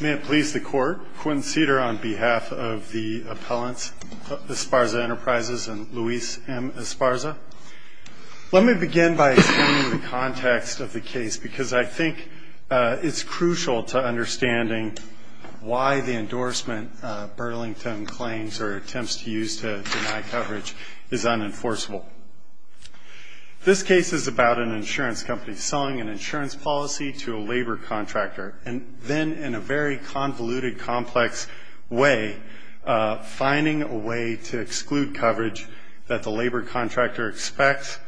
May it please the Court, Quentin Cedar on behalf of the appellants Esparza Enterprises and Luis M. Esparza. Let me begin by explaining the context of the case because I think it's crucial to understanding why the endorsement Burlington claims or attempts to use to deny coverage is unenforceable. This case is about an insurance company selling an insurance policy to a labor contractor and then in a very convoluted, complex way finding a way to exclude coverage that the labor contractor expects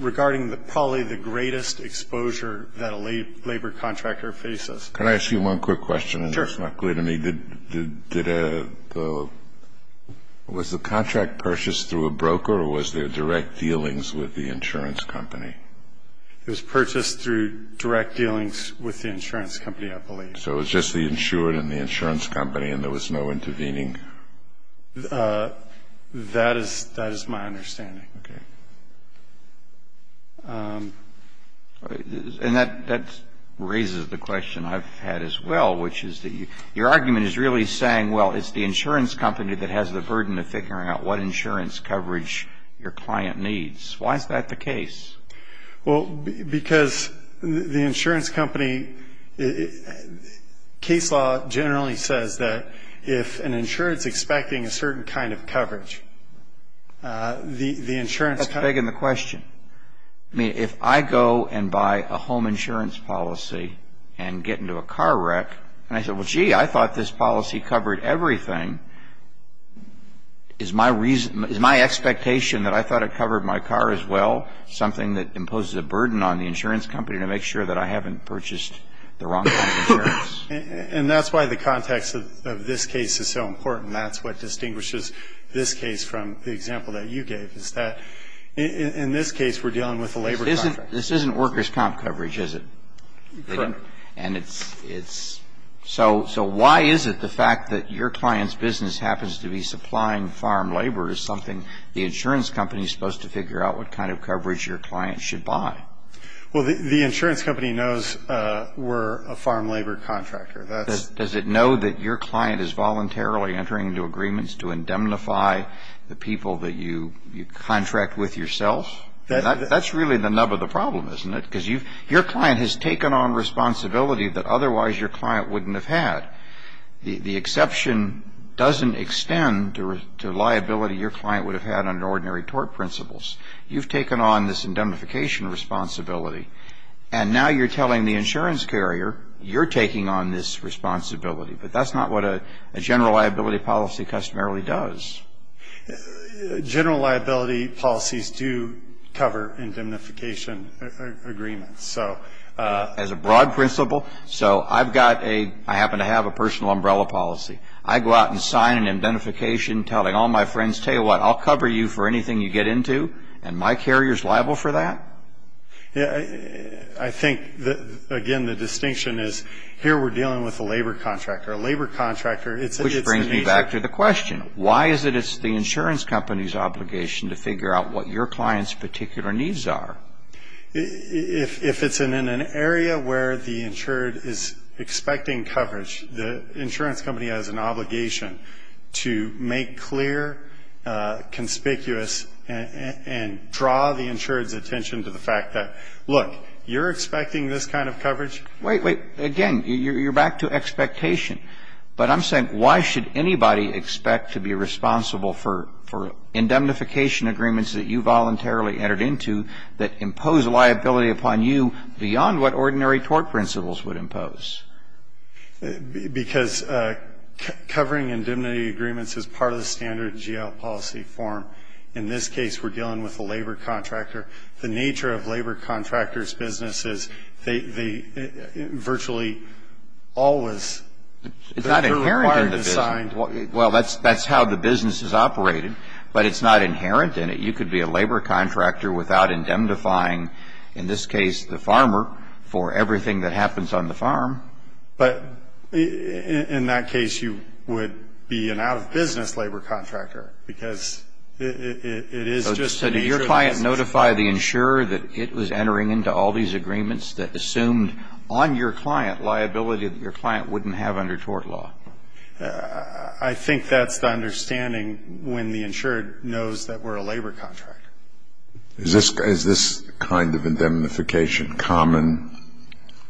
regarding probably the greatest exposure that a labor contractor faces. Can I ask you one quick question? Sure. It's not clear to me. Was the contract purchased through a broker or was there direct dealings with the insurance company? It was purchased through direct dealings with the insurance company, I believe. So it was just the insured and the insurance company and there was no intervening? That is my understanding. Okay. And that raises the question I've had as well, which is that your argument is really saying, well, it's the insurance company that has the burden of figuring out what insurance coverage your client needs. Why is that the case? Well, because the insurance company, case law generally says that if an insurer is expecting a certain kind of coverage, the insurance company That's begging the question. I mean, if I go and buy a home insurance policy and get into a car wreck and I say, well, gee, I thought this policy covered everything, is my expectation that I thought it covered my car as well, something that imposes a burden on the insurance company to make sure that I haven't purchased the wrong kind of insurance? And that's why the context of this case is so important. And that's what distinguishes this case from the example that you gave is that in this case we're dealing with a labor contract. This isn't workers' comp coverage, is it? Correct. And it's so why is it the fact that your client's business happens to be supplying farm labor is something the insurance company is supposed to figure out what kind of coverage your client should buy? Well, the insurance company knows we're a farm labor contractor. Does it know that your client is voluntarily entering into agreements to indemnify the people that you contract with yourself? That's really the nub of the problem, isn't it? Because your client has taken on responsibility that otherwise your client wouldn't have had. The exception doesn't extend to liability your client would have had under ordinary tort principles. You've taken on this indemnification responsibility. And now you're telling the insurance carrier you're taking on this responsibility. But that's not what a general liability policy customarily does. General liability policies do cover indemnification agreements. As a broad principle. So I've got a – I happen to have a personal umbrella policy. I go out and sign an indemnification telling all my friends, tell you what, I'll cover you for anything you get into. And my carrier's liable for that? Yeah. I think, again, the distinction is here we're dealing with a labor contractor. A labor contractor – Which brings me back to the question. Why is it it's the insurance company's obligation to figure out what your client's particular needs are? If it's in an area where the insured is expecting coverage, the insurance company has an obligation to make clear, conspicuous, and draw the insured's attention to the fact that, look, you're expecting this kind of coverage? Wait, wait. Again, you're back to expectation. But I'm saying why should anybody expect to be responsible for indemnification agreements that you voluntarily entered into that impose liability upon you beyond what ordinary tort principles would impose? Because covering indemnity agreements is part of the standard GL policy form. In this case, we're dealing with a labor contractor. The nature of labor contractors' business is they virtually always – It's not inherent in the business. Well, that's how the business is operated, but it's not inherent in it. You could be a labor contractor without indemnifying, in this case, the farmer for everything that happens on the farm. But in that case, you would be an out-of-business labor contractor because it is just a nature of business. So did your client notify the insurer that it was entering into all these agreements that assumed on your client liability that your client wouldn't have under tort law? I think that's the understanding when the insured knows that we're a labor contractor. Is this kind of indemnification common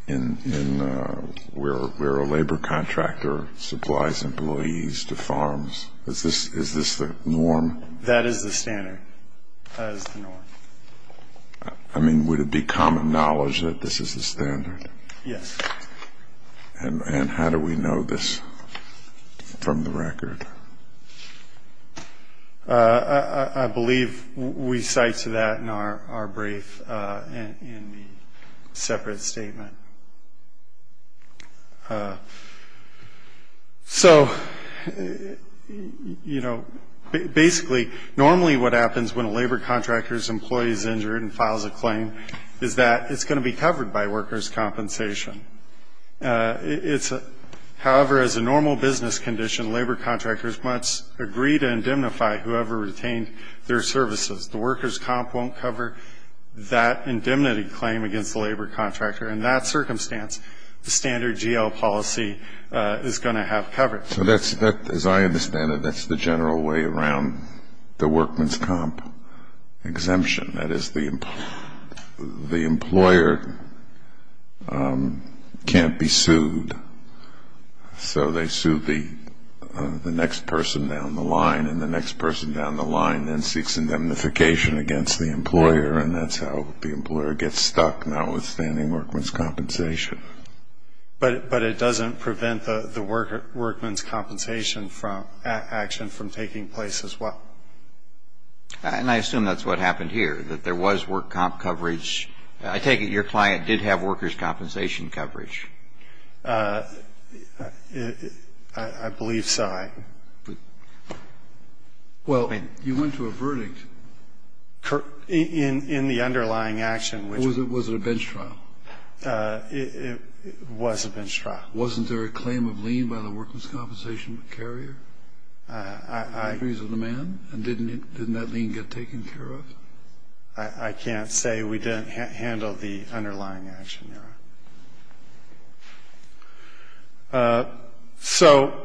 in where a labor contractor supplies employees to farms? Is this the norm? That is the standard. That is the norm. I mean, would it be common knowledge that this is the standard? Yes. And how do we know this from the record? I believe we cite to that in our brief in the separate statement. So, you know, basically, normally what happens when a labor contractor's employee is injured and files a claim is that it's going to be covered by workers' compensation. However, as a normal business condition, labor contractors must agree to indemnify whoever retained their services. The workers' comp won't cover that indemnity claim against the labor contractor. In that circumstance, the standard GL policy is going to have coverage. So that's, as I understand it, that's the general way around the workman's comp exemption. That is, the employer can't be sued. So they sue the next person down the line, and the next person down the line then seeks indemnification against the employer, and that's how the employer gets stuck, notwithstanding workman's compensation. But it doesn't prevent the workman's compensation action from taking place as well. And I assume that's what happened here, that there was work comp coverage. I take it your client did have workers' compensation coverage. I believe so. Well, you went to a verdict. In the underlying action. Was it a bench trial? It was a bench trial. Wasn't there a claim of lien by the workers' compensation carrier? I agree with the man. And didn't that lien get taken care of? I can't say we didn't handle the underlying action, Your Honor. So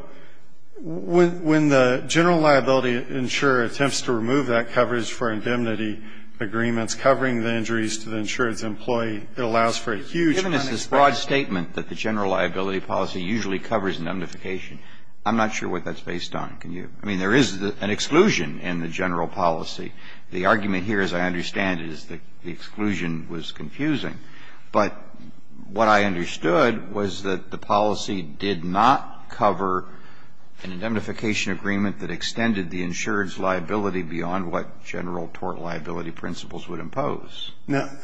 when the general liability insurer attempts to remove that coverage for indemnity agreements covering the injuries to the insured's employee, it allows for a huge kind of expansion. You've given us this broad statement that the general liability policy usually covers indemnification. I'm not sure what that's based on. Can you? I mean, there is an exclusion in the general policy. The argument here, as I understand it, is that the exclusion was confusing. But what I understood was that the policy did not cover an indemnification agreement that extended the insured's liability beyond what general tort liability principles would impose.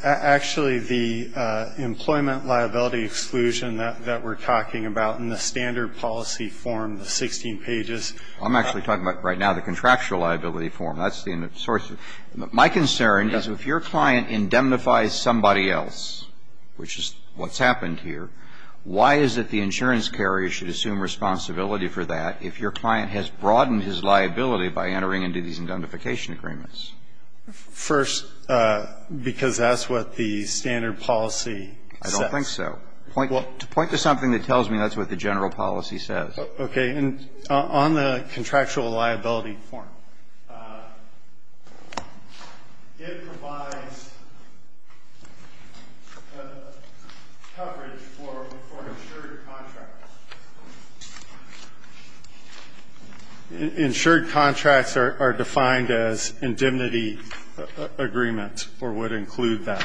Actually, the employment liability exclusion that we're talking about in the standard policy form, the 16 pages. I'm actually talking about right now the contractual liability form. That's the source. My concern is if your client indemnifies somebody else, which is what's happened here, why is it the insurance carrier should assume responsibility for that if your client has broadened his liability by entering into these indemnification agreements? First, because that's what the standard policy says. I don't think so. Point to something that tells me that's what the general policy says. Okay. And on the contractual liability form, it provides coverage for insured contracts. Insured contracts are defined as indemnity agreements or would include that.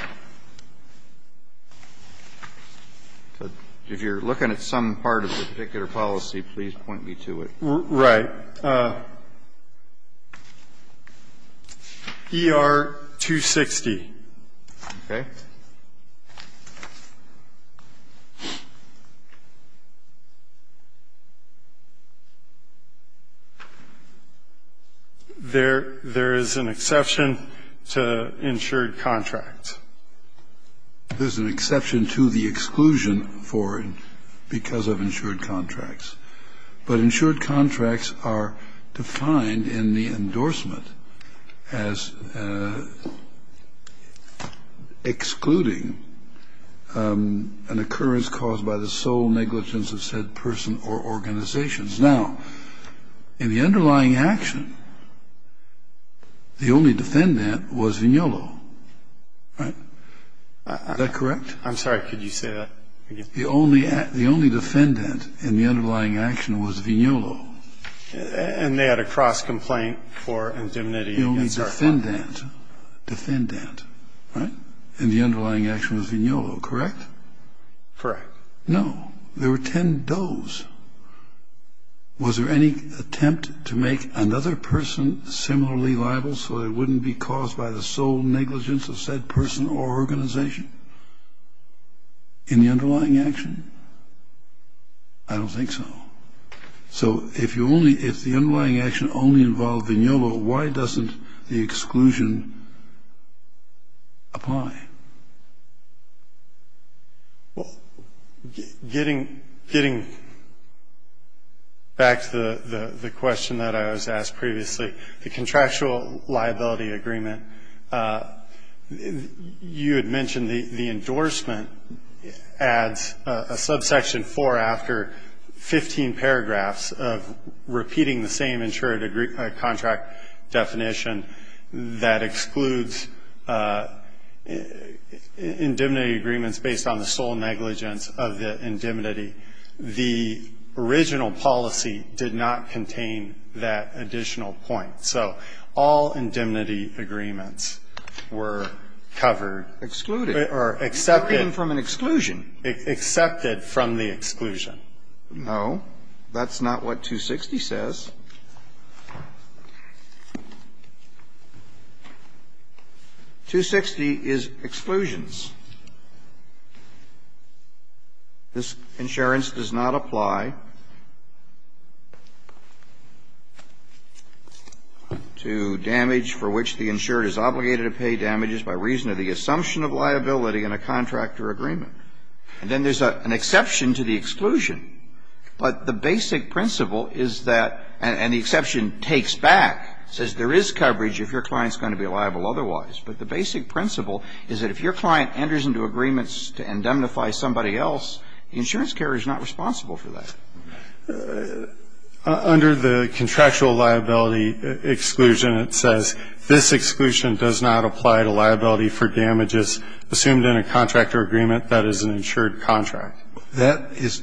If you're looking at some part of the particular policy, please point me to it. Right. ER-260. Okay. There is an exception to insured contracts. There's an exception to the exclusion for because of insured contracts. But insured contracts are defined in the endorsement as excluding an occurrence caused by the sole negligence of said person or organizations. Now, in the underlying action, the only defendant was Vignolo, right? Is that correct? I'm sorry. Could you say that again? The only defendant in the underlying action was Vignolo. And they had a cross complaint for indemnity. The only defendant, defendant, right, in the underlying action was Vignolo, correct? Correct. No. There were 10 does. Was there any attempt to make another person similarly liable so they wouldn't be caused by the sole negligence of said person or organization? In the underlying action? I don't think so. So if the underlying action only involved Vignolo, why doesn't the exclusion apply? Well, getting back to the question that I was asked previously, the contractual liability agreement, you had mentioned the endorsement adds a subsection 4 after 15 paragraphs of repeating the same insured contract definition that excludes indemnity agreements based on the sole negligence of the indemnity. The original policy did not contain that additional point. So all indemnity agreements were covered. Excluded. Or accepted. Excluded from an exclusion. Accepted from the exclusion. No. That's not what 260 says. 260 is exclusions. This insurance does not apply to damage for which the insured is obligated to pay damages by reason of the assumption of liability in a contractor agreement. And then there's an exception to the exclusion. But the basic principle is that, and the exception takes back, says there is coverage if your client is going to be liable otherwise. But the basic principle is that if your client enters into agreements to indemnify somebody else, the insurance carrier is not responsible for that. Under the contractual liability exclusion, it says, this exclusion does not apply to liability for damages assumed in a contractor agreement that is an insured contract. That is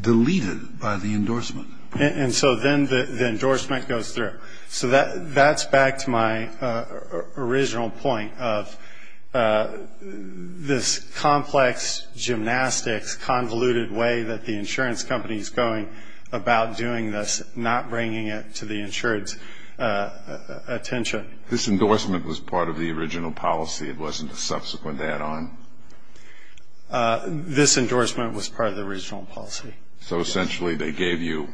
deleted by the endorsement. And so then the endorsement goes through. So that's back to my original point of this complex gymnastics, convoluted way that the insurance company is going about doing this, not bringing it to the insured's attention. This endorsement was part of the original policy. It wasn't a subsequent add-on. This endorsement was part of the original policy. So essentially they gave you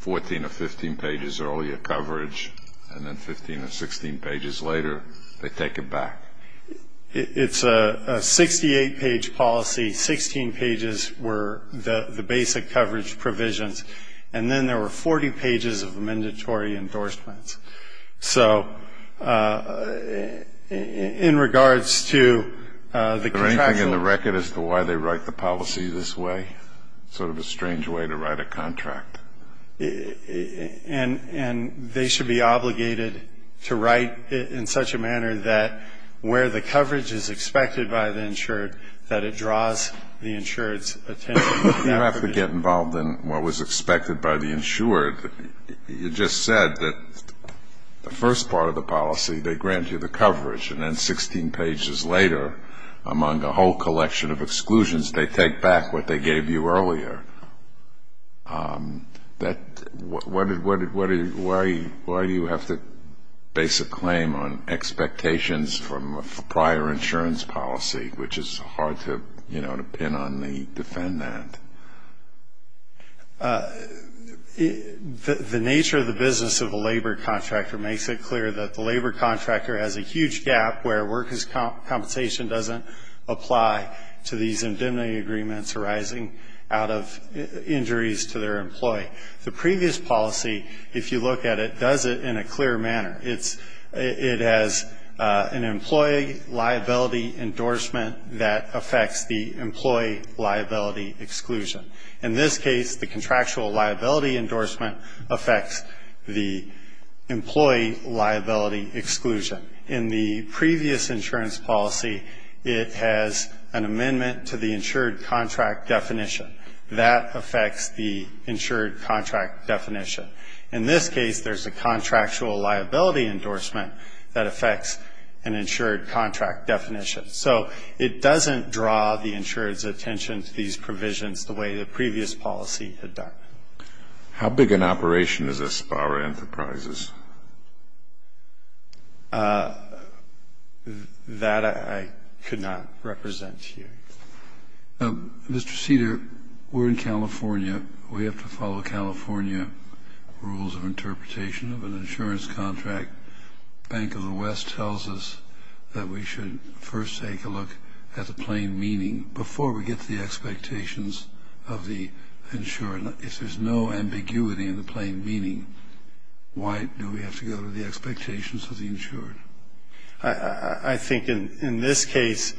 14 or 15 pages earlier coverage, and then 15 or 16 pages later they take it back. It's a 68-page policy. Sixteen pages were the basic coverage provisions. And then there were 40 pages of mandatory endorsements. So in regards to the contractual ---- Is there anything in the record as to why they write the policy this way, sort of a strange way to write a contract? And they should be obligated to write it in such a manner that where the coverage is expected by the insured, that it draws the insured's attention. You have to get involved in what was expected by the insured. You just said that the first part of the policy they grant you the coverage, and then 16 pages later, among a whole collection of exclusions, they take back what they gave you earlier. Why do you have to base a claim on expectations from a prior insurance policy, which is hard to pin on the defendant? The nature of the business of a labor contractor makes it clear that the labor contractor has a huge gap where workers' compensation doesn't apply to these indemnity agreements arising out of injuries to their employee. The previous policy, if you look at it, does it in a clear manner. It has an employee liability endorsement that affects the employee liability exclusion. In this case, the contractual liability endorsement affects the employee liability exclusion. In the previous insurance policy, it has an amendment to the insured contract definition. That affects the insured contract definition. In this case, there's a contractual liability endorsement that affects an insured contract definition. So it doesn't draw the insured's attention to these provisions the way the previous policy had done. How big an operation is Aspara Enterprises? That I could not represent here. Mr. Cedar, we're in California. We have to follow California rules of interpretation of an insurance contract. Bank of the West tells us that we should first take a look at the plain meaning before we get to the expectations of the insured. If there's no ambiguity in the plain meaning, why do we have to go to the expectations of the insured? I think in this case,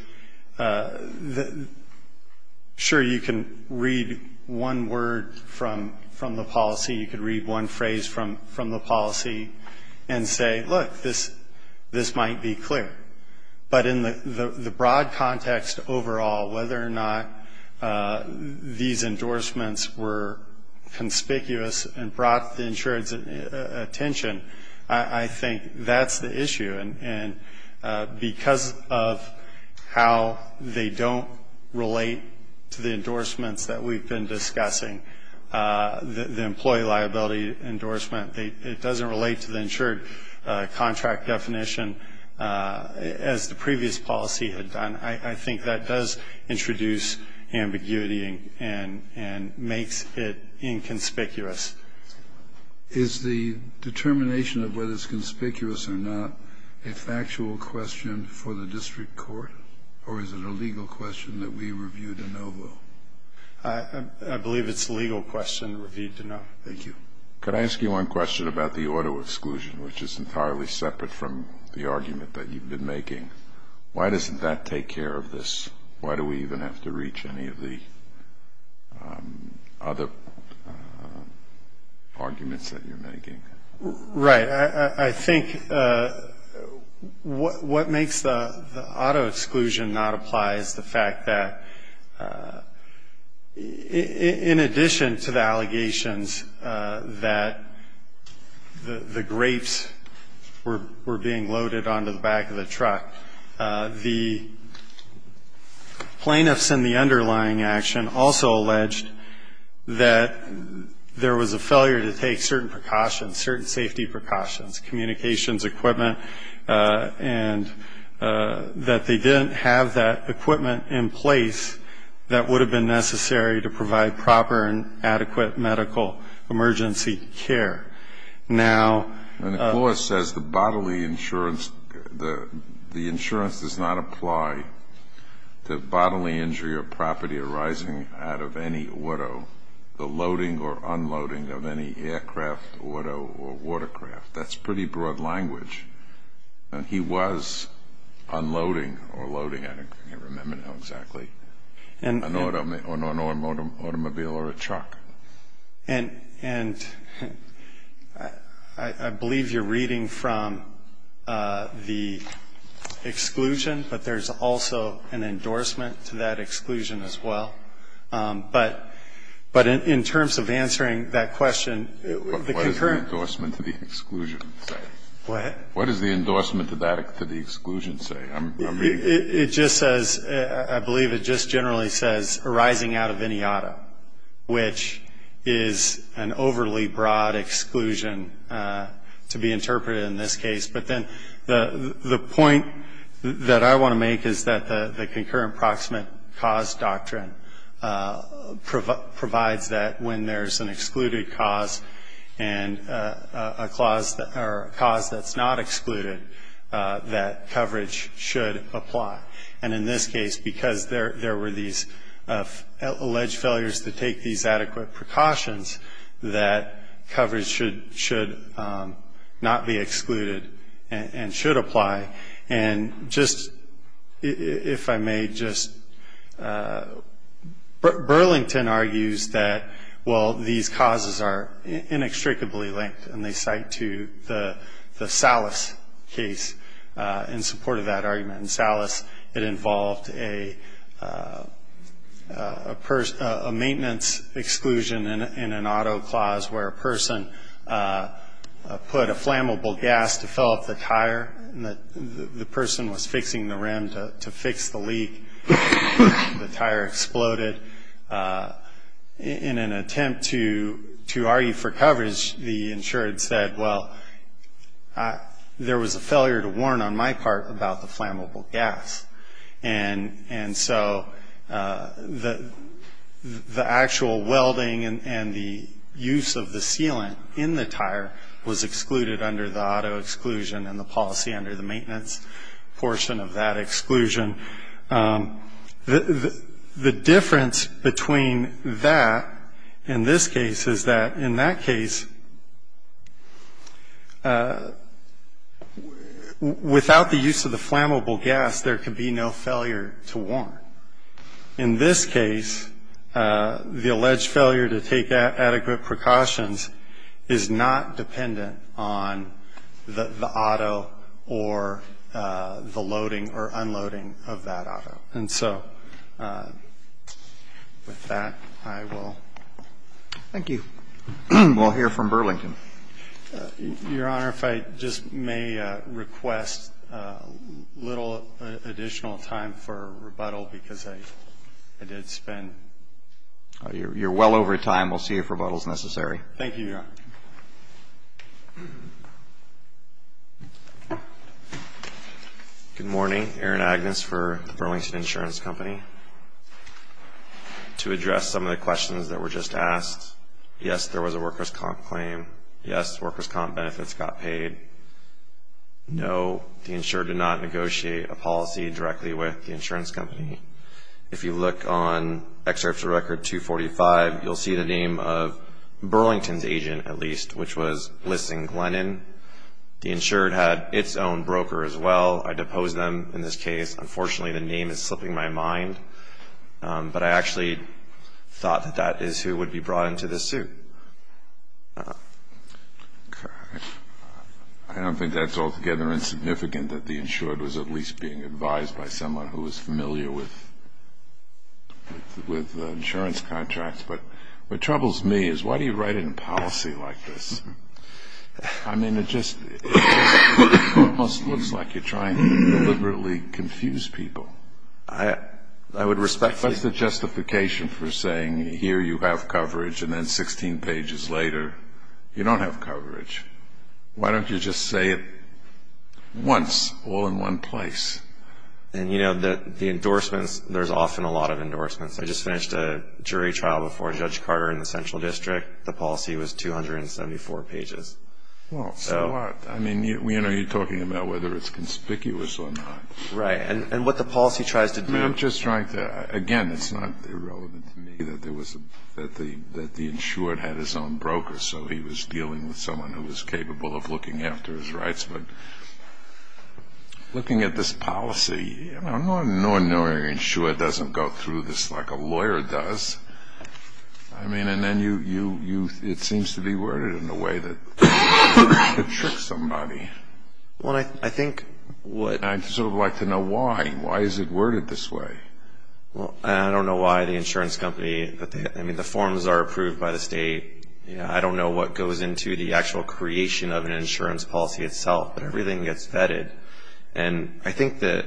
sure, you can read one word from the policy. You could read one phrase from the policy and say, look, this might be clear. But in the broad context overall, whether or not these endorsements were conspicuous and brought the insured's attention, I think that's the issue. And because of how they don't relate to the endorsements that we've been discussing, the employee liability endorsement, it doesn't relate to the insured contract definition, as the previous policy had done. I think that does introduce ambiguity and makes it inconspicuous. Is the determination of whether it's conspicuous or not a factual question for the district court, or is it a legal question that we review de novo? I believe it's a legal question reviewed de novo. Thank you. Could I ask you one question about the auto exclusion, which is entirely separate from the argument that you've been making? Why doesn't that take care of this? Why do we even have to reach any of the other arguments that you're making? Right. I think what makes the auto exclusion not apply is the fact that in addition to the allegations that the grapes were being loaded onto the back of the truck, the plaintiffs in the underlying action also alleged that there was a failure to take certain precautions, certain safety precautions, communications, equipment, and that they didn't have that equipment in place that would have been necessary to provide proper and adequate medical emergency care. And the clause says the bodily insurance does not apply to bodily injury or property arising out of any auto, the loading or unloading of any aircraft, auto, or watercraft. That's pretty broad language. He was unloading or loading, I can't remember now exactly, on an automobile or a truck. And I believe you're reading from the exclusion, but there's also an endorsement to that exclusion as well. But in terms of answering that question, the concurrent What does the endorsement to the exclusion say? It just says, I believe it just generally says arising out of any auto, which is an overly broad exclusion to be interpreted in this case. But then the point that I want to make is that the concurrent proximate cause doctrine provides that when there's an excluded cause and a cause that's not excluded, that coverage should apply. And in this case, because there were these alleged failures to take these adequate precautions, that coverage should not be excluded and should apply. And just, if I may just, Burlington argues that, well, these causes are inextricably linked, and they cite to the Salas case in support of that argument. In Salas, it involved a maintenance exclusion in an auto clause where a person put a flammable gas to fill up the tire, and the person was fixing the rim to fix the leak. The tire exploded. In an attempt to argue for coverage, the insured said, well, there was a failure to warn on my part about the flammable gas. And so the actual welding and the use of the sealant in the tire was excluded under the auto exclusion and the policy under the maintenance portion of that exclusion. The difference between that in this case is that in that case, without the use of the flammable gas, there could be no failure to warn. In this case, the alleged failure to take adequate precautions is not dependent on the auto or the loading or unloading of that auto. And so with that, I will. Roberts. Thank you. We'll hear from Burlington. Your Honor, if I just may request a little additional time for rebuttal because I did spend. You're well over time. We'll see if rebuttal is necessary. Thank you, Your Honor. Good morning. Aaron Agnes for the Burlington Insurance Company. To address some of the questions that were just asked, yes, there was a workers' comp claim. Yes, workers' comp benefits got paid. No, the insured did not negotiate a policy directly with the insurance company. If you look on excerpts of Record 245, you'll see the name of Burlington's agent, at least, which was Liston Glennon. The insured had its own broker as well. I deposed them in this case. Unfortunately, the name is slipping my mind, but I actually thought that that is who would be brought into this suit. I don't think that's altogether insignificant, that the insured was at least being advised by someone who was familiar with insurance contracts. But what troubles me is why do you write in a policy like this? I mean, it just almost looks like you're trying to deliberately confuse people. I would respect that. What's the justification for saying here you have coverage and then 16 pages later you don't have coverage? Why don't you just say it once, all in one place? And, you know, the endorsements, there's often a lot of endorsements. I just finished a jury trial before Judge Carter in the Central District. The policy was 274 pages. Well, so what? I mean, you know, you're talking about whether it's conspicuous or not. Right. And what the policy tries to do? I'm just trying to – again, it's not irrelevant to me that the insured had his own broker, so he was dealing with someone who was capable of looking after his rights. But looking at this policy, I mean, an ordinary insured doesn't go through this like a lawyer does. I mean, and then you – it seems to be worded in a way that you're trying to trick somebody. Well, I think what – I'd sort of like to know why. Why is it worded this way? Well, I don't know why the insurance company – I mean, the forms are approved by the state. I don't know what goes into the actual creation of an insurance policy itself, but everything gets vetted. And I think that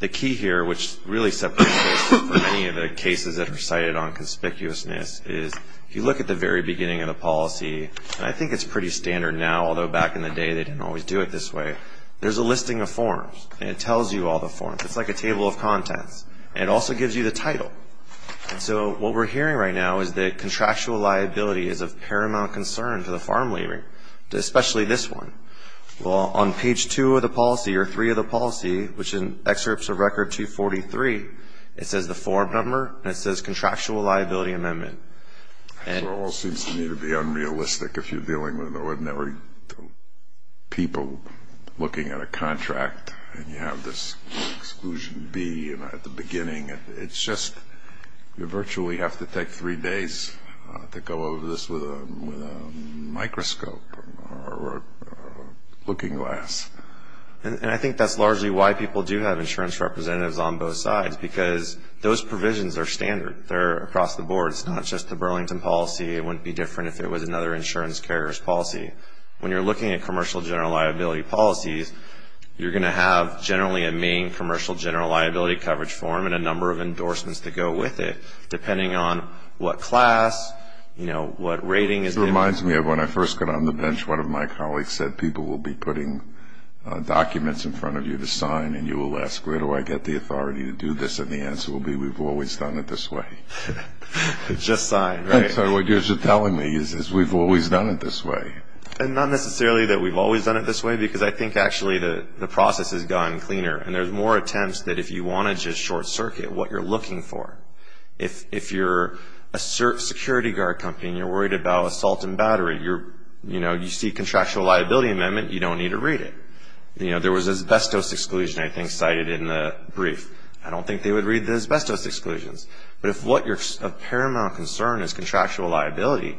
the key here, which really separates many of the cases that are cited on conspicuousness, is if you look at the very beginning of the policy, and I think it's pretty standard now, although back in the day they didn't always do it this way, there's a listing of forms, and it tells you all the forms. It's like a table of contents, and it also gives you the title. And so what we're hearing right now is that contractual liability is of paramount concern to the farm laborer, especially this one. Well, on page two of the policy, or three of the policy, which is excerpts of record 243, it says the form number, and it says contractual liability amendment. It all seems to me to be unrealistic if you're dealing with ordinary people looking at a contract, and you have this exclusion B at the beginning. It's just you virtually have to take three days to go over this with a microscope or looking glass. And I think that's largely why people do have insurance representatives on both sides, because those provisions are standard. They're across the board. It's not just the Burlington policy. It wouldn't be different if it was another insurance carrier's policy. When you're looking at commercial general liability policies, you're going to have generally a main commercial general liability coverage form and a number of endorsements that go with it, depending on what class, what rating. It reminds me of when I first got on the bench, one of my colleagues said people will be putting documents in front of you to sign, and you will ask, where do I get the authority to do this? And the answer will be, we've always done it this way. Just sign, right? So what you're telling me is we've always done it this way. And not necessarily that we've always done it this way, because I think actually the process has gotten cleaner, and there's more attempts that if you want to just short circuit what you're looking for. If you're a security guard company and you're worried about assault and battery, you see a contractual liability amendment, you don't need to read it. There was asbestos exclusion, I think, cited in the brief. I don't think they would read the asbestos exclusions. But if what you're of paramount concern is contractual liability,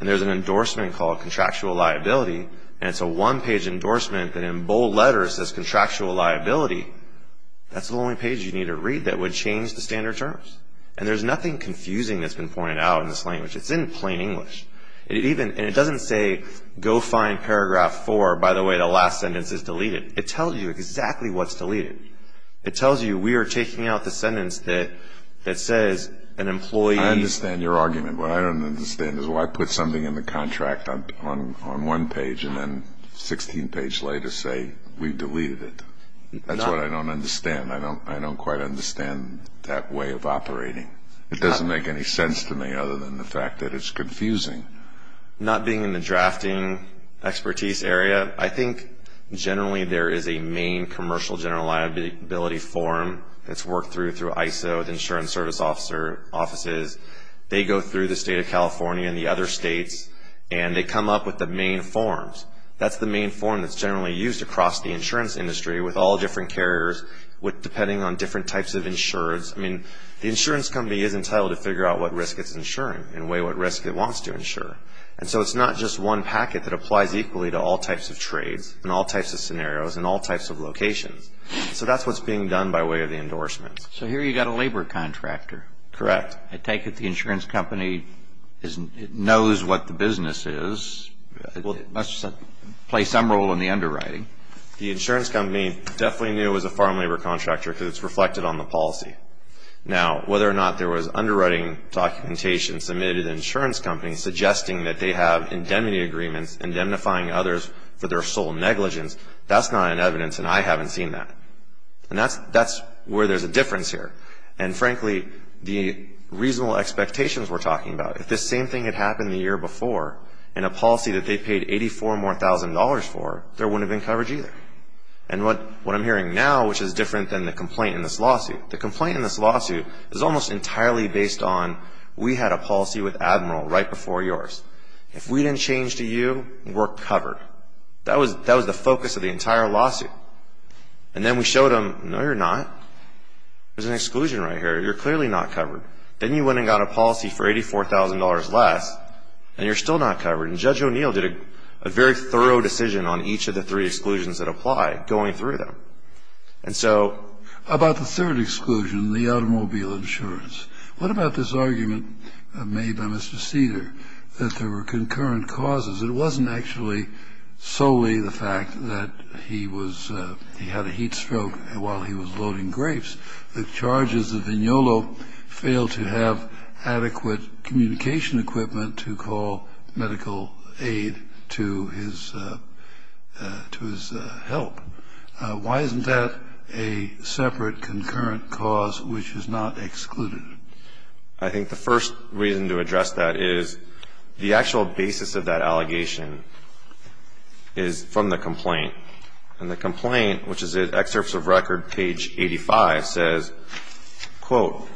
and there's an endorsement called contractual liability, and it's a one-page endorsement that in bold letters says contractual liability, that's the only page you need to read that would change the standard terms. And there's nothing confusing that's been pointed out in this language. It's in plain English. And it doesn't say, go find paragraph four. By the way, the last sentence is deleted. It tells you exactly what's deleted. It tells you we are taking out the sentence that says an employee. I understand your argument. What I don't understand is why put something in the contract on one page and then 16 pages later say we've deleted it. That's what I don't understand. I don't quite understand that way of operating. It doesn't make any sense to me other than the fact that it's confusing. Not being in the drafting expertise area, I think generally there is a main commercial general liability form. It's worked through through ISO, the insurance service offices. They go through the state of California and the other states, and they come up with the main forms. That's the main form that's generally used across the insurance industry with all different carriers depending on different types of insurers. I mean, the insurance company is entitled to figure out what risk it's insuring and weigh what risk it wants to insure. And so it's not just one packet that applies equally to all types of trades and all types of scenarios and all types of locations. So that's what's being done by way of the endorsement. So here you've got a labor contractor. Correct. I take it the insurance company knows what the business is. It must play some role in the underwriting. The insurance company definitely knew it was a foreign labor contractor because it's reflected on the policy. Now, whether or not there was underwriting documentation submitted to the insurance company suggesting that they have indemnity agreements, indemnifying others for their sole negligence, that's not an evidence, and I haven't seen that. And that's where there's a difference here. And frankly, the reasonable expectations we're talking about, if this same thing had happened the year before in a policy that they paid $84,000 more for, there wouldn't have been coverage either. And what I'm hearing now, which is different than the complaint in this lawsuit, the complaint in this lawsuit is almost entirely based on we had a policy with Admiral right before yours. If we didn't change to you, we're covered. That was the focus of the entire lawsuit. And then we showed them, no, you're not. There's an exclusion right here. You're clearly not covered. Then you went and got a policy for $84,000 less, and you're still not covered. And Judge O'Neill did a very thorough decision on each of the three exclusions that apply going through them. And so about the third exclusion, the automobile insurance, what about this argument made by Mr. Seder that there were concurrent causes? It wasn't actually solely the fact that he was he had a heat stroke while he was loading grapes. The charges of Vignolo failed to have adequate communication equipment to call medical aid to his help. Why isn't that a separate concurrent cause which is not excluded? I think the first reason to address that is the actual basis of that allegation is from the complaint. And the complaint, which is in excerpts of record, page 85, says, quote,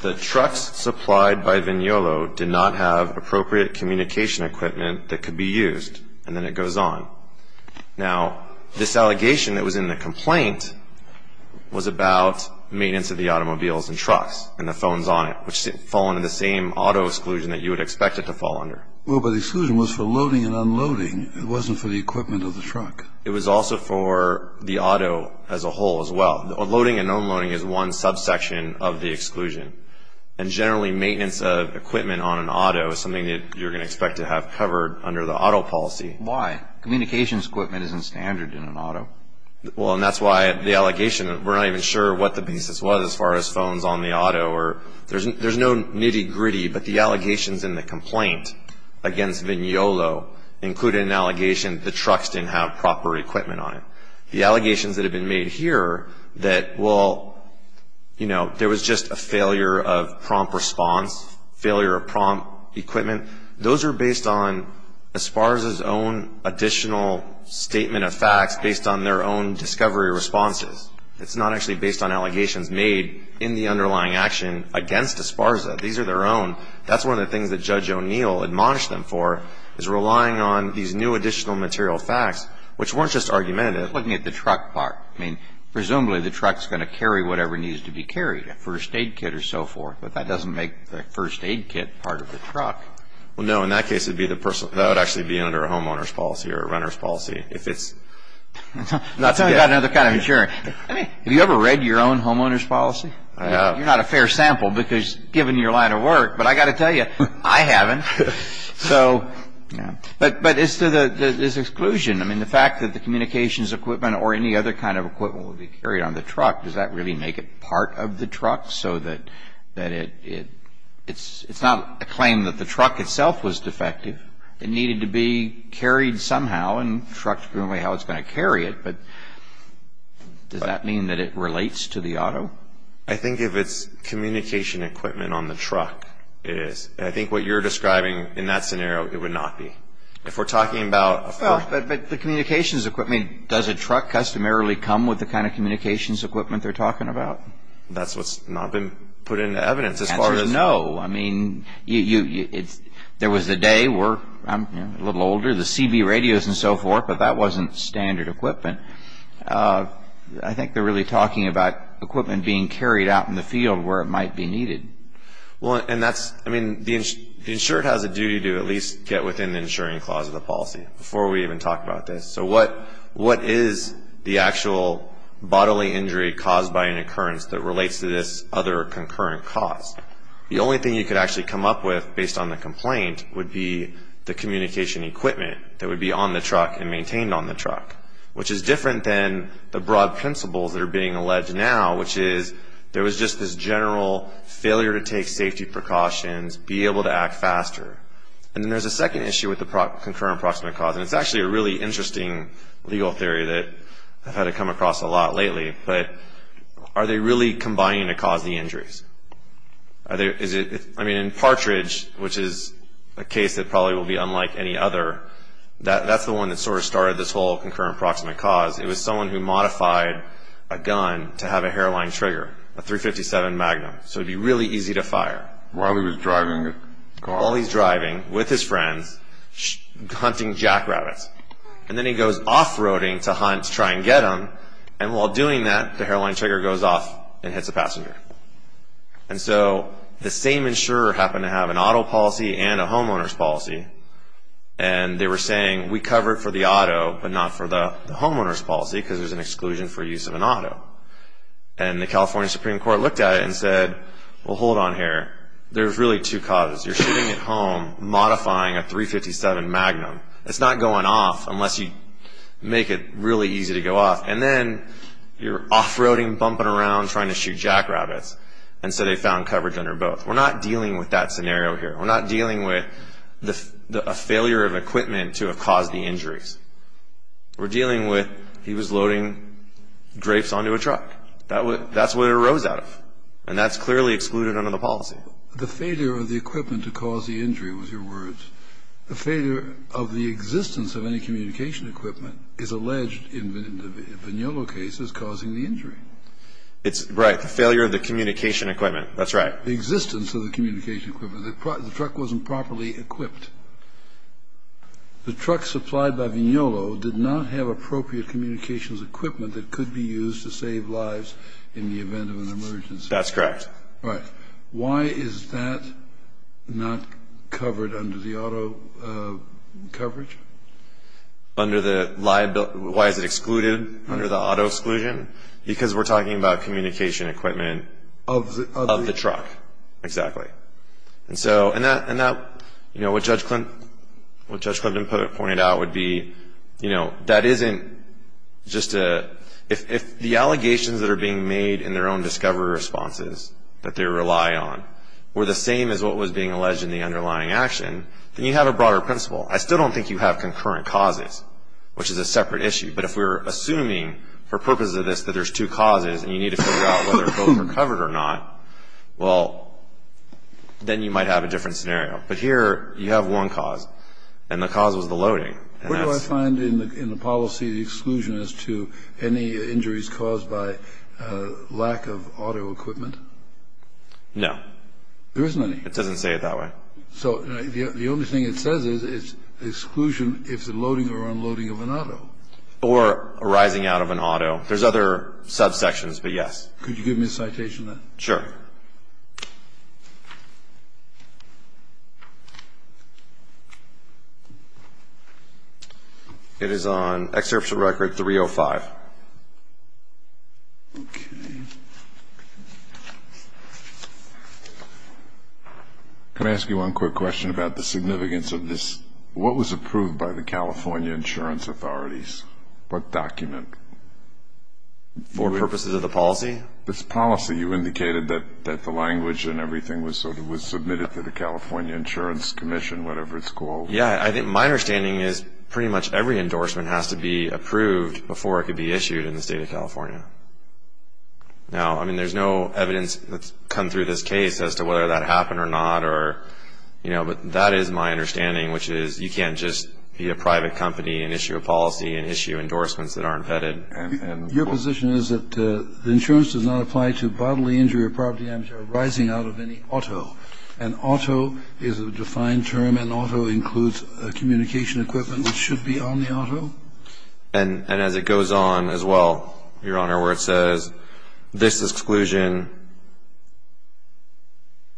the trucks supplied by Vignolo did not have appropriate communication equipment that could be used. And then it goes on. Now, this allegation that was in the complaint was about maintenance of the automobiles and trucks. And the phones on it, which fall under the same auto exclusion that you would expect it to fall under. Well, but the exclusion was for loading and unloading. It wasn't for the equipment of the truck. It was also for the auto as a whole as well. Loading and unloading is one subsection of the exclusion. And generally, maintenance of equipment on an auto is something that you're going to expect to have covered under the auto policy. Why? Communications equipment isn't standard in an auto. Well, and that's why the allegation, we're not even sure what the basis was as far as phones on the auto. There's no nitty-gritty, but the allegations in the complaint against Vignolo included an allegation the trucks didn't have proper equipment on it. The allegations that have been made here that, well, you know, there was just a failure of prompt response, failure of prompt equipment, those are based on ESPARZA's own additional statement of facts based on their own discovery responses. It's not actually based on allegations made in the underlying action against ESPARZA. These are their own. That's one of the things that Judge O'Neill admonished them for is relying on these new additional material facts, which weren't just argumentative. Looking at the truck part, I mean, presumably the truck's going to carry whatever needs to be carried, a first aid kit or so forth. But that doesn't make the first aid kit part of the truck. Well, no. In that case, that would actually be under a homeowner's policy or a runner's policy if it's... I'm talking about another kind of insurance. I mean, have you ever read your own homeowner's policy? You're not a fair sample because given your line of work, but I've got to tell you, I haven't. So, but as to this exclusion, I mean, the fact that the communications equipment or any other kind of equipment will be carried on the truck, does that really make it part of the truck so that it's not a claim that the truck itself was defective? It needed to be carried somehow, and the truck's going to be how it's going to carry it. But does that mean that it relates to the auto? I think if it's communication equipment on the truck, it is. And I think what you're describing in that scenario, it would not be. If we're talking about... Well, but the communications equipment, does a truck customarily come with the kind of communications equipment they're talking about? That's what's not been put into evidence as far as... No. I mean, there was the day where I'm a little older, the CB radios and so forth, but that wasn't standard equipment. I think they're really talking about equipment being carried out in the field where it might be needed. Well, and that's... I mean, the insured has a duty to at least get within the insuring clause of the policy before we even talk about this. So what is the actual bodily injury caused by an occurrence that relates to this other concurrent cause? The only thing you could actually come up with based on the complaint would be the communication equipment that would be on the truck and maintained on the truck, which is different than the broad principles that are being alleged now, which is there was just this general failure to take safety precautions, be able to act faster. And then there's a second issue with the concurrent proximate cause, and it's actually a really interesting legal theory that I've had to come across a lot lately, but are they really combining to cause the injuries? I mean, in Partridge, which is a case that probably will be unlike any other, that's the one that sort of started this whole concurrent proximate cause. It was someone who modified a gun to have a hairline trigger, a .357 Magnum, so it would be really easy to fire. While he was driving the car? While he's driving with his friends, hunting jackrabbits. And then he goes off-roading to hunt to try and get them, and while doing that, the hairline trigger goes off and hits a passenger. And so the same insurer happened to have an auto policy and a homeowner's policy, and they were saying, we cover it for the auto but not for the homeowner's policy because there's an exclusion for use of an auto. And the California Supreme Court looked at it and said, well, hold on here. There's really two causes. You're shooting at home, modifying a .357 Magnum. It's not going off unless you make it really easy to go off. And then you're off-roading, bumping around, trying to shoot jackrabbits. And so they found coverage under both. We're not dealing with that scenario here. We're not dealing with a failure of equipment to have caused the injuries. We're dealing with he was loading grapes onto a truck. That's what it arose out of, and that's clearly excluded under the policy. The failure of the equipment to cause the injury was your words. The failure of the existence of any communication equipment is alleged in the Vignola case as causing the injury. Right, the failure of the communication equipment. That's right. The existence of the communication equipment. The truck wasn't properly equipped. The truck supplied by Vignola did not have appropriate communications equipment that could be used to save lives in the event of an emergency. That's correct. Right. Why is that not covered under the auto coverage? Why is it excluded under the auto exclusion? Because we're talking about communication equipment of the truck. Exactly. And so what Judge Clinton pointed out would be that isn't just a – if the allegations that are being made in their own discovery responses that they rely on were the same as what was being alleged in the underlying action, then you have a broader principle. I still don't think you have concurrent causes, which is a separate issue. But if we're assuming for purposes of this that there's two causes and you need to figure out whether both are covered or not, well, then you might have a different scenario. But here you have one cause, and the cause was the loading. What do I find in the policy exclusion as to any injuries caused by lack of auto equipment? No. There isn't any. It doesn't say it that way. So the only thing it says is it's exclusion if the loading or unloading of an auto. Or arising out of an auto. There's other subsections, but yes. Could you give me a citation on that? Sure. It is on Excerpt from Record 305. Okay. Can I ask you one quick question about the significance of this? What was approved by the California Insurance Authorities? What document? For purposes of the policy? This policy. You indicated that the language and everything was submitted to the California Insurance Commission, whatever it's called. Yeah. I think my understanding is pretty much every endorsement has to be approved before it could be issued in the state of California. Now, I mean, there's no evidence that's come through this case as to whether that happened or not. But that is my understanding, which is you can't just be a private company and issue a policy and issue endorsements that aren't vetted. Your position is that the insurance does not apply to bodily injury or property damage arising out of any auto. An auto is a defined term. An auto includes communication equipment which should be on the auto. And as it goes on as well, Your Honor, where it says, this exclusion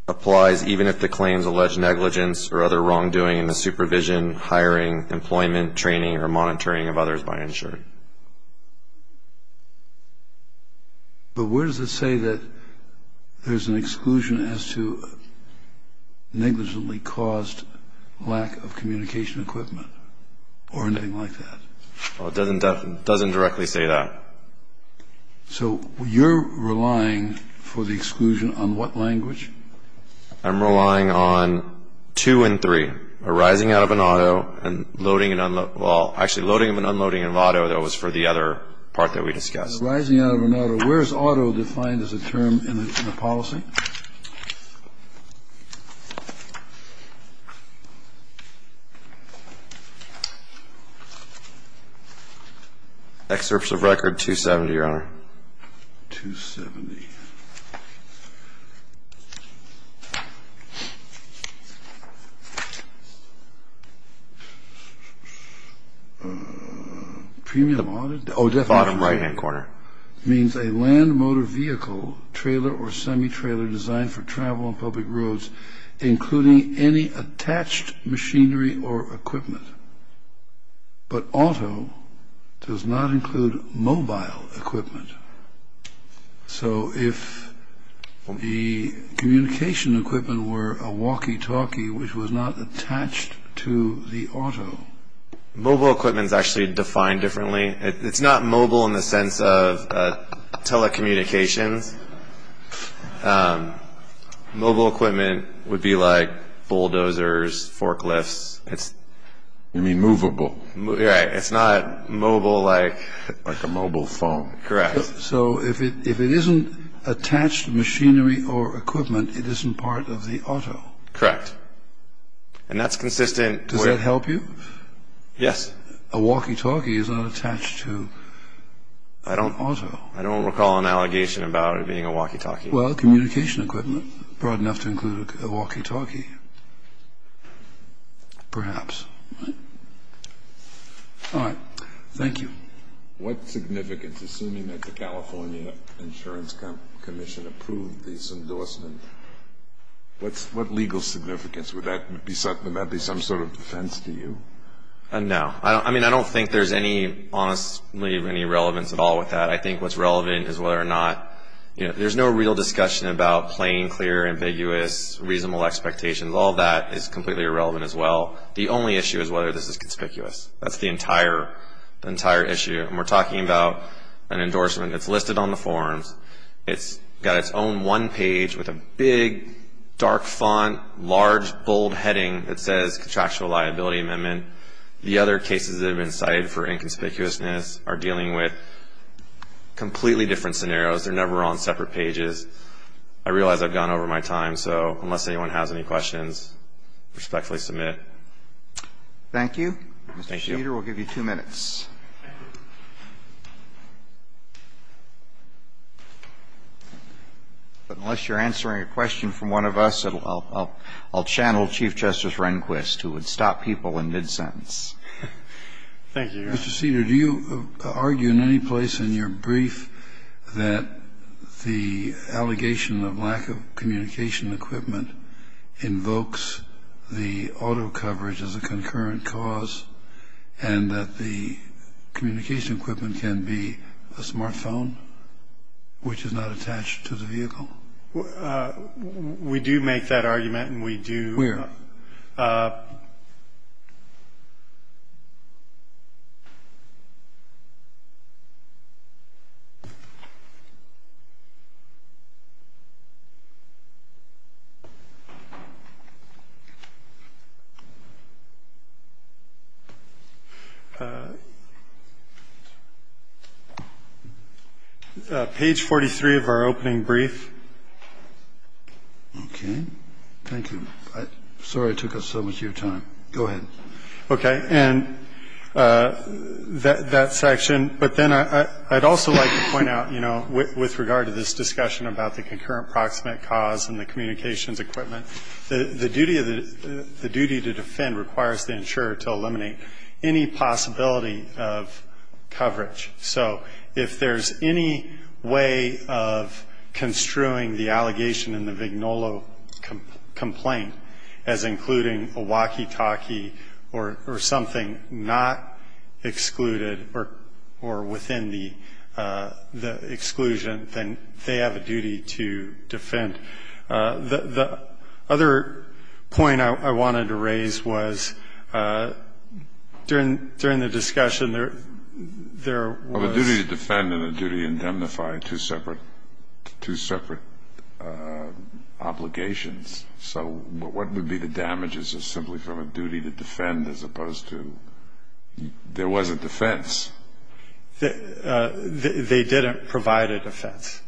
applies even if the claims allege negligence or other wrongdoing in the supervision, hiring, employment, training, or monitoring of others by insurance. But where does it say that there's an exclusion as to negligently caused lack of communication equipment or anything like that? It doesn't directly say that. So you're relying for the exclusion on what language? I'm relying on two and three. Arising out of an auto and loading and unloading. Well, actually, loading and unloading of auto, that was for the other part that we discussed. Arising out of an auto. Where is auto defined as a term in the policy? Excerpts of record 270, Your Honor. 270. Premium auto. Oh, definitely. Bottom right-hand corner. Means a land motor vehicle, trailer, or semi-trailer designed for travel on public roads, including any attached machinery or equipment. But auto does not include mobile equipment. So if the communication equipment were a walkie-talkie which was not attached to the auto. Mobile equipment is actually defined differently. It's not mobile in the sense of telecommunications. Mobile equipment would be like bulldozers, forklifts. You mean movable. Right. It's not mobile like. Like a mobile phone. Correct. So if it isn't attached machinery or equipment, it isn't part of the auto. Correct. And that's consistent. Does that help you? Yes. A walkie-talkie is not attached to an auto. I don't recall an allegation about it being a walkie-talkie. Well, communication equipment, broad enough to include a walkie-talkie, perhaps. All right. Thank you. What significance, assuming that the California Insurance Commission approved this endorsement, what legal significance would that be some sort of defense to you? No. I mean, I don't think there's any, honestly, any relevance at all with that. I think what's relevant is whether or not, you know, there's no real discussion about plain, clear, ambiguous, reasonable expectations. All of that is completely irrelevant as well. The only issue is whether this is conspicuous. That's the entire issue. And we're talking about an endorsement that's listed on the forms. It's got its own one page with a big, dark font, large, bold heading that says Contractual Liability Amendment. The other cases that have been cited for inconspicuousness are dealing with completely different scenarios. They're never on separate pages. I realize I've gone over my time, so unless anyone has any questions, respectfully submit. Thank you. Thank you. Mr. Sheeter, we'll give you two minutes. But unless you're answering a question from one of us, I'll channel Chief Justice Rehnquist, who would stop people in mid-sentence. Thank you, Your Honor. Mr. Sheeter, do you argue in any place in your brief that the allegation of lack of communication equipment invokes the auto coverage as a concurrent cause and that the communication equipment can be a smartphone, which is not attached to the vehicle? We do make that argument, and we do. Where? Page 43 of our opening brief. Okay. Thank you. I'm sorry I took up so much of your time. Go ahead. Okay. And that section. But then I'd also like to point out, you know, with regard to this discussion about the concurrent proximate cause and the communications equipment, the duty to defend requires the insurer to eliminate any possibility of coverage. So if there's any way of construing the allegation in the Vignolo complaint as including a walkie-talkie or something not excluded or within the exclusion, then they have a duty to defend. The other point I wanted to raise was during the discussion, there was — Of a duty to defend and a duty to indemnify, two separate obligations. So what would be the damages simply from a duty to defend as opposed to there was a defense? They didn't provide a defense.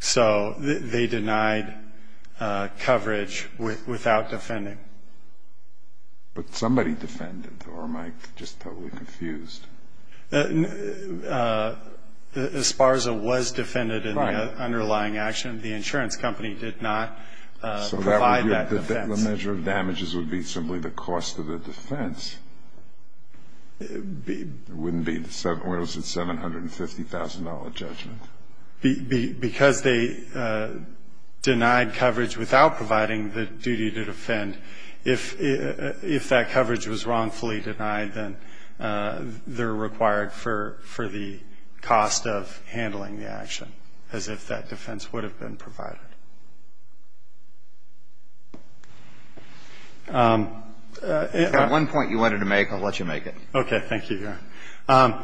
So they denied coverage without defending. But somebody defended, or am I just totally confused? Esparza was defended in the underlying action. The insurance company did not provide that defense. So the measure of damages would be simply the cost of the defense. It wouldn't be the $750,000 judgment. Because they denied coverage without providing the duty to defend, if that coverage was wrongfully denied, then they're required for the cost of handling the action as if that defense would have been provided. If there's one point you wanted to make, I'll let you make it. Okay. Thank you, Your Honor.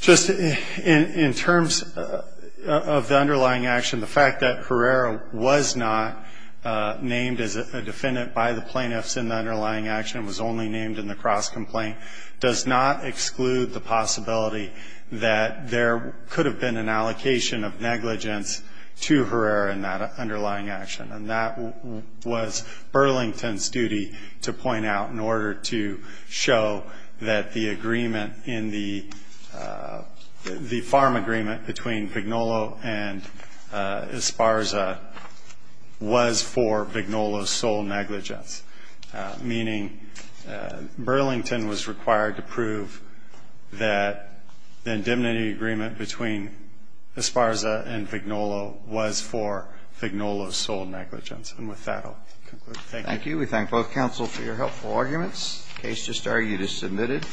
Just in terms of the underlying action, the fact that Herrera was not named as a defendant by the plaintiffs in the underlying action, was only named in the cross-complaint, does not exclude the possibility that there could have been an allocation of negligence to Herrera in that action. And that was Burlington's duty to point out in order to show that the agreement in the farm agreement between Vignolo and Esparza was for Vignolo's sole negligence. Meaning Burlington was required to prove that the indemnity agreement between Esparza and Vignolo was for Vignolo's sole negligence. And with that, I'll conclude. Thank you. Thank you. We thank both counsel for your helpful arguments. The case just argued is submitted.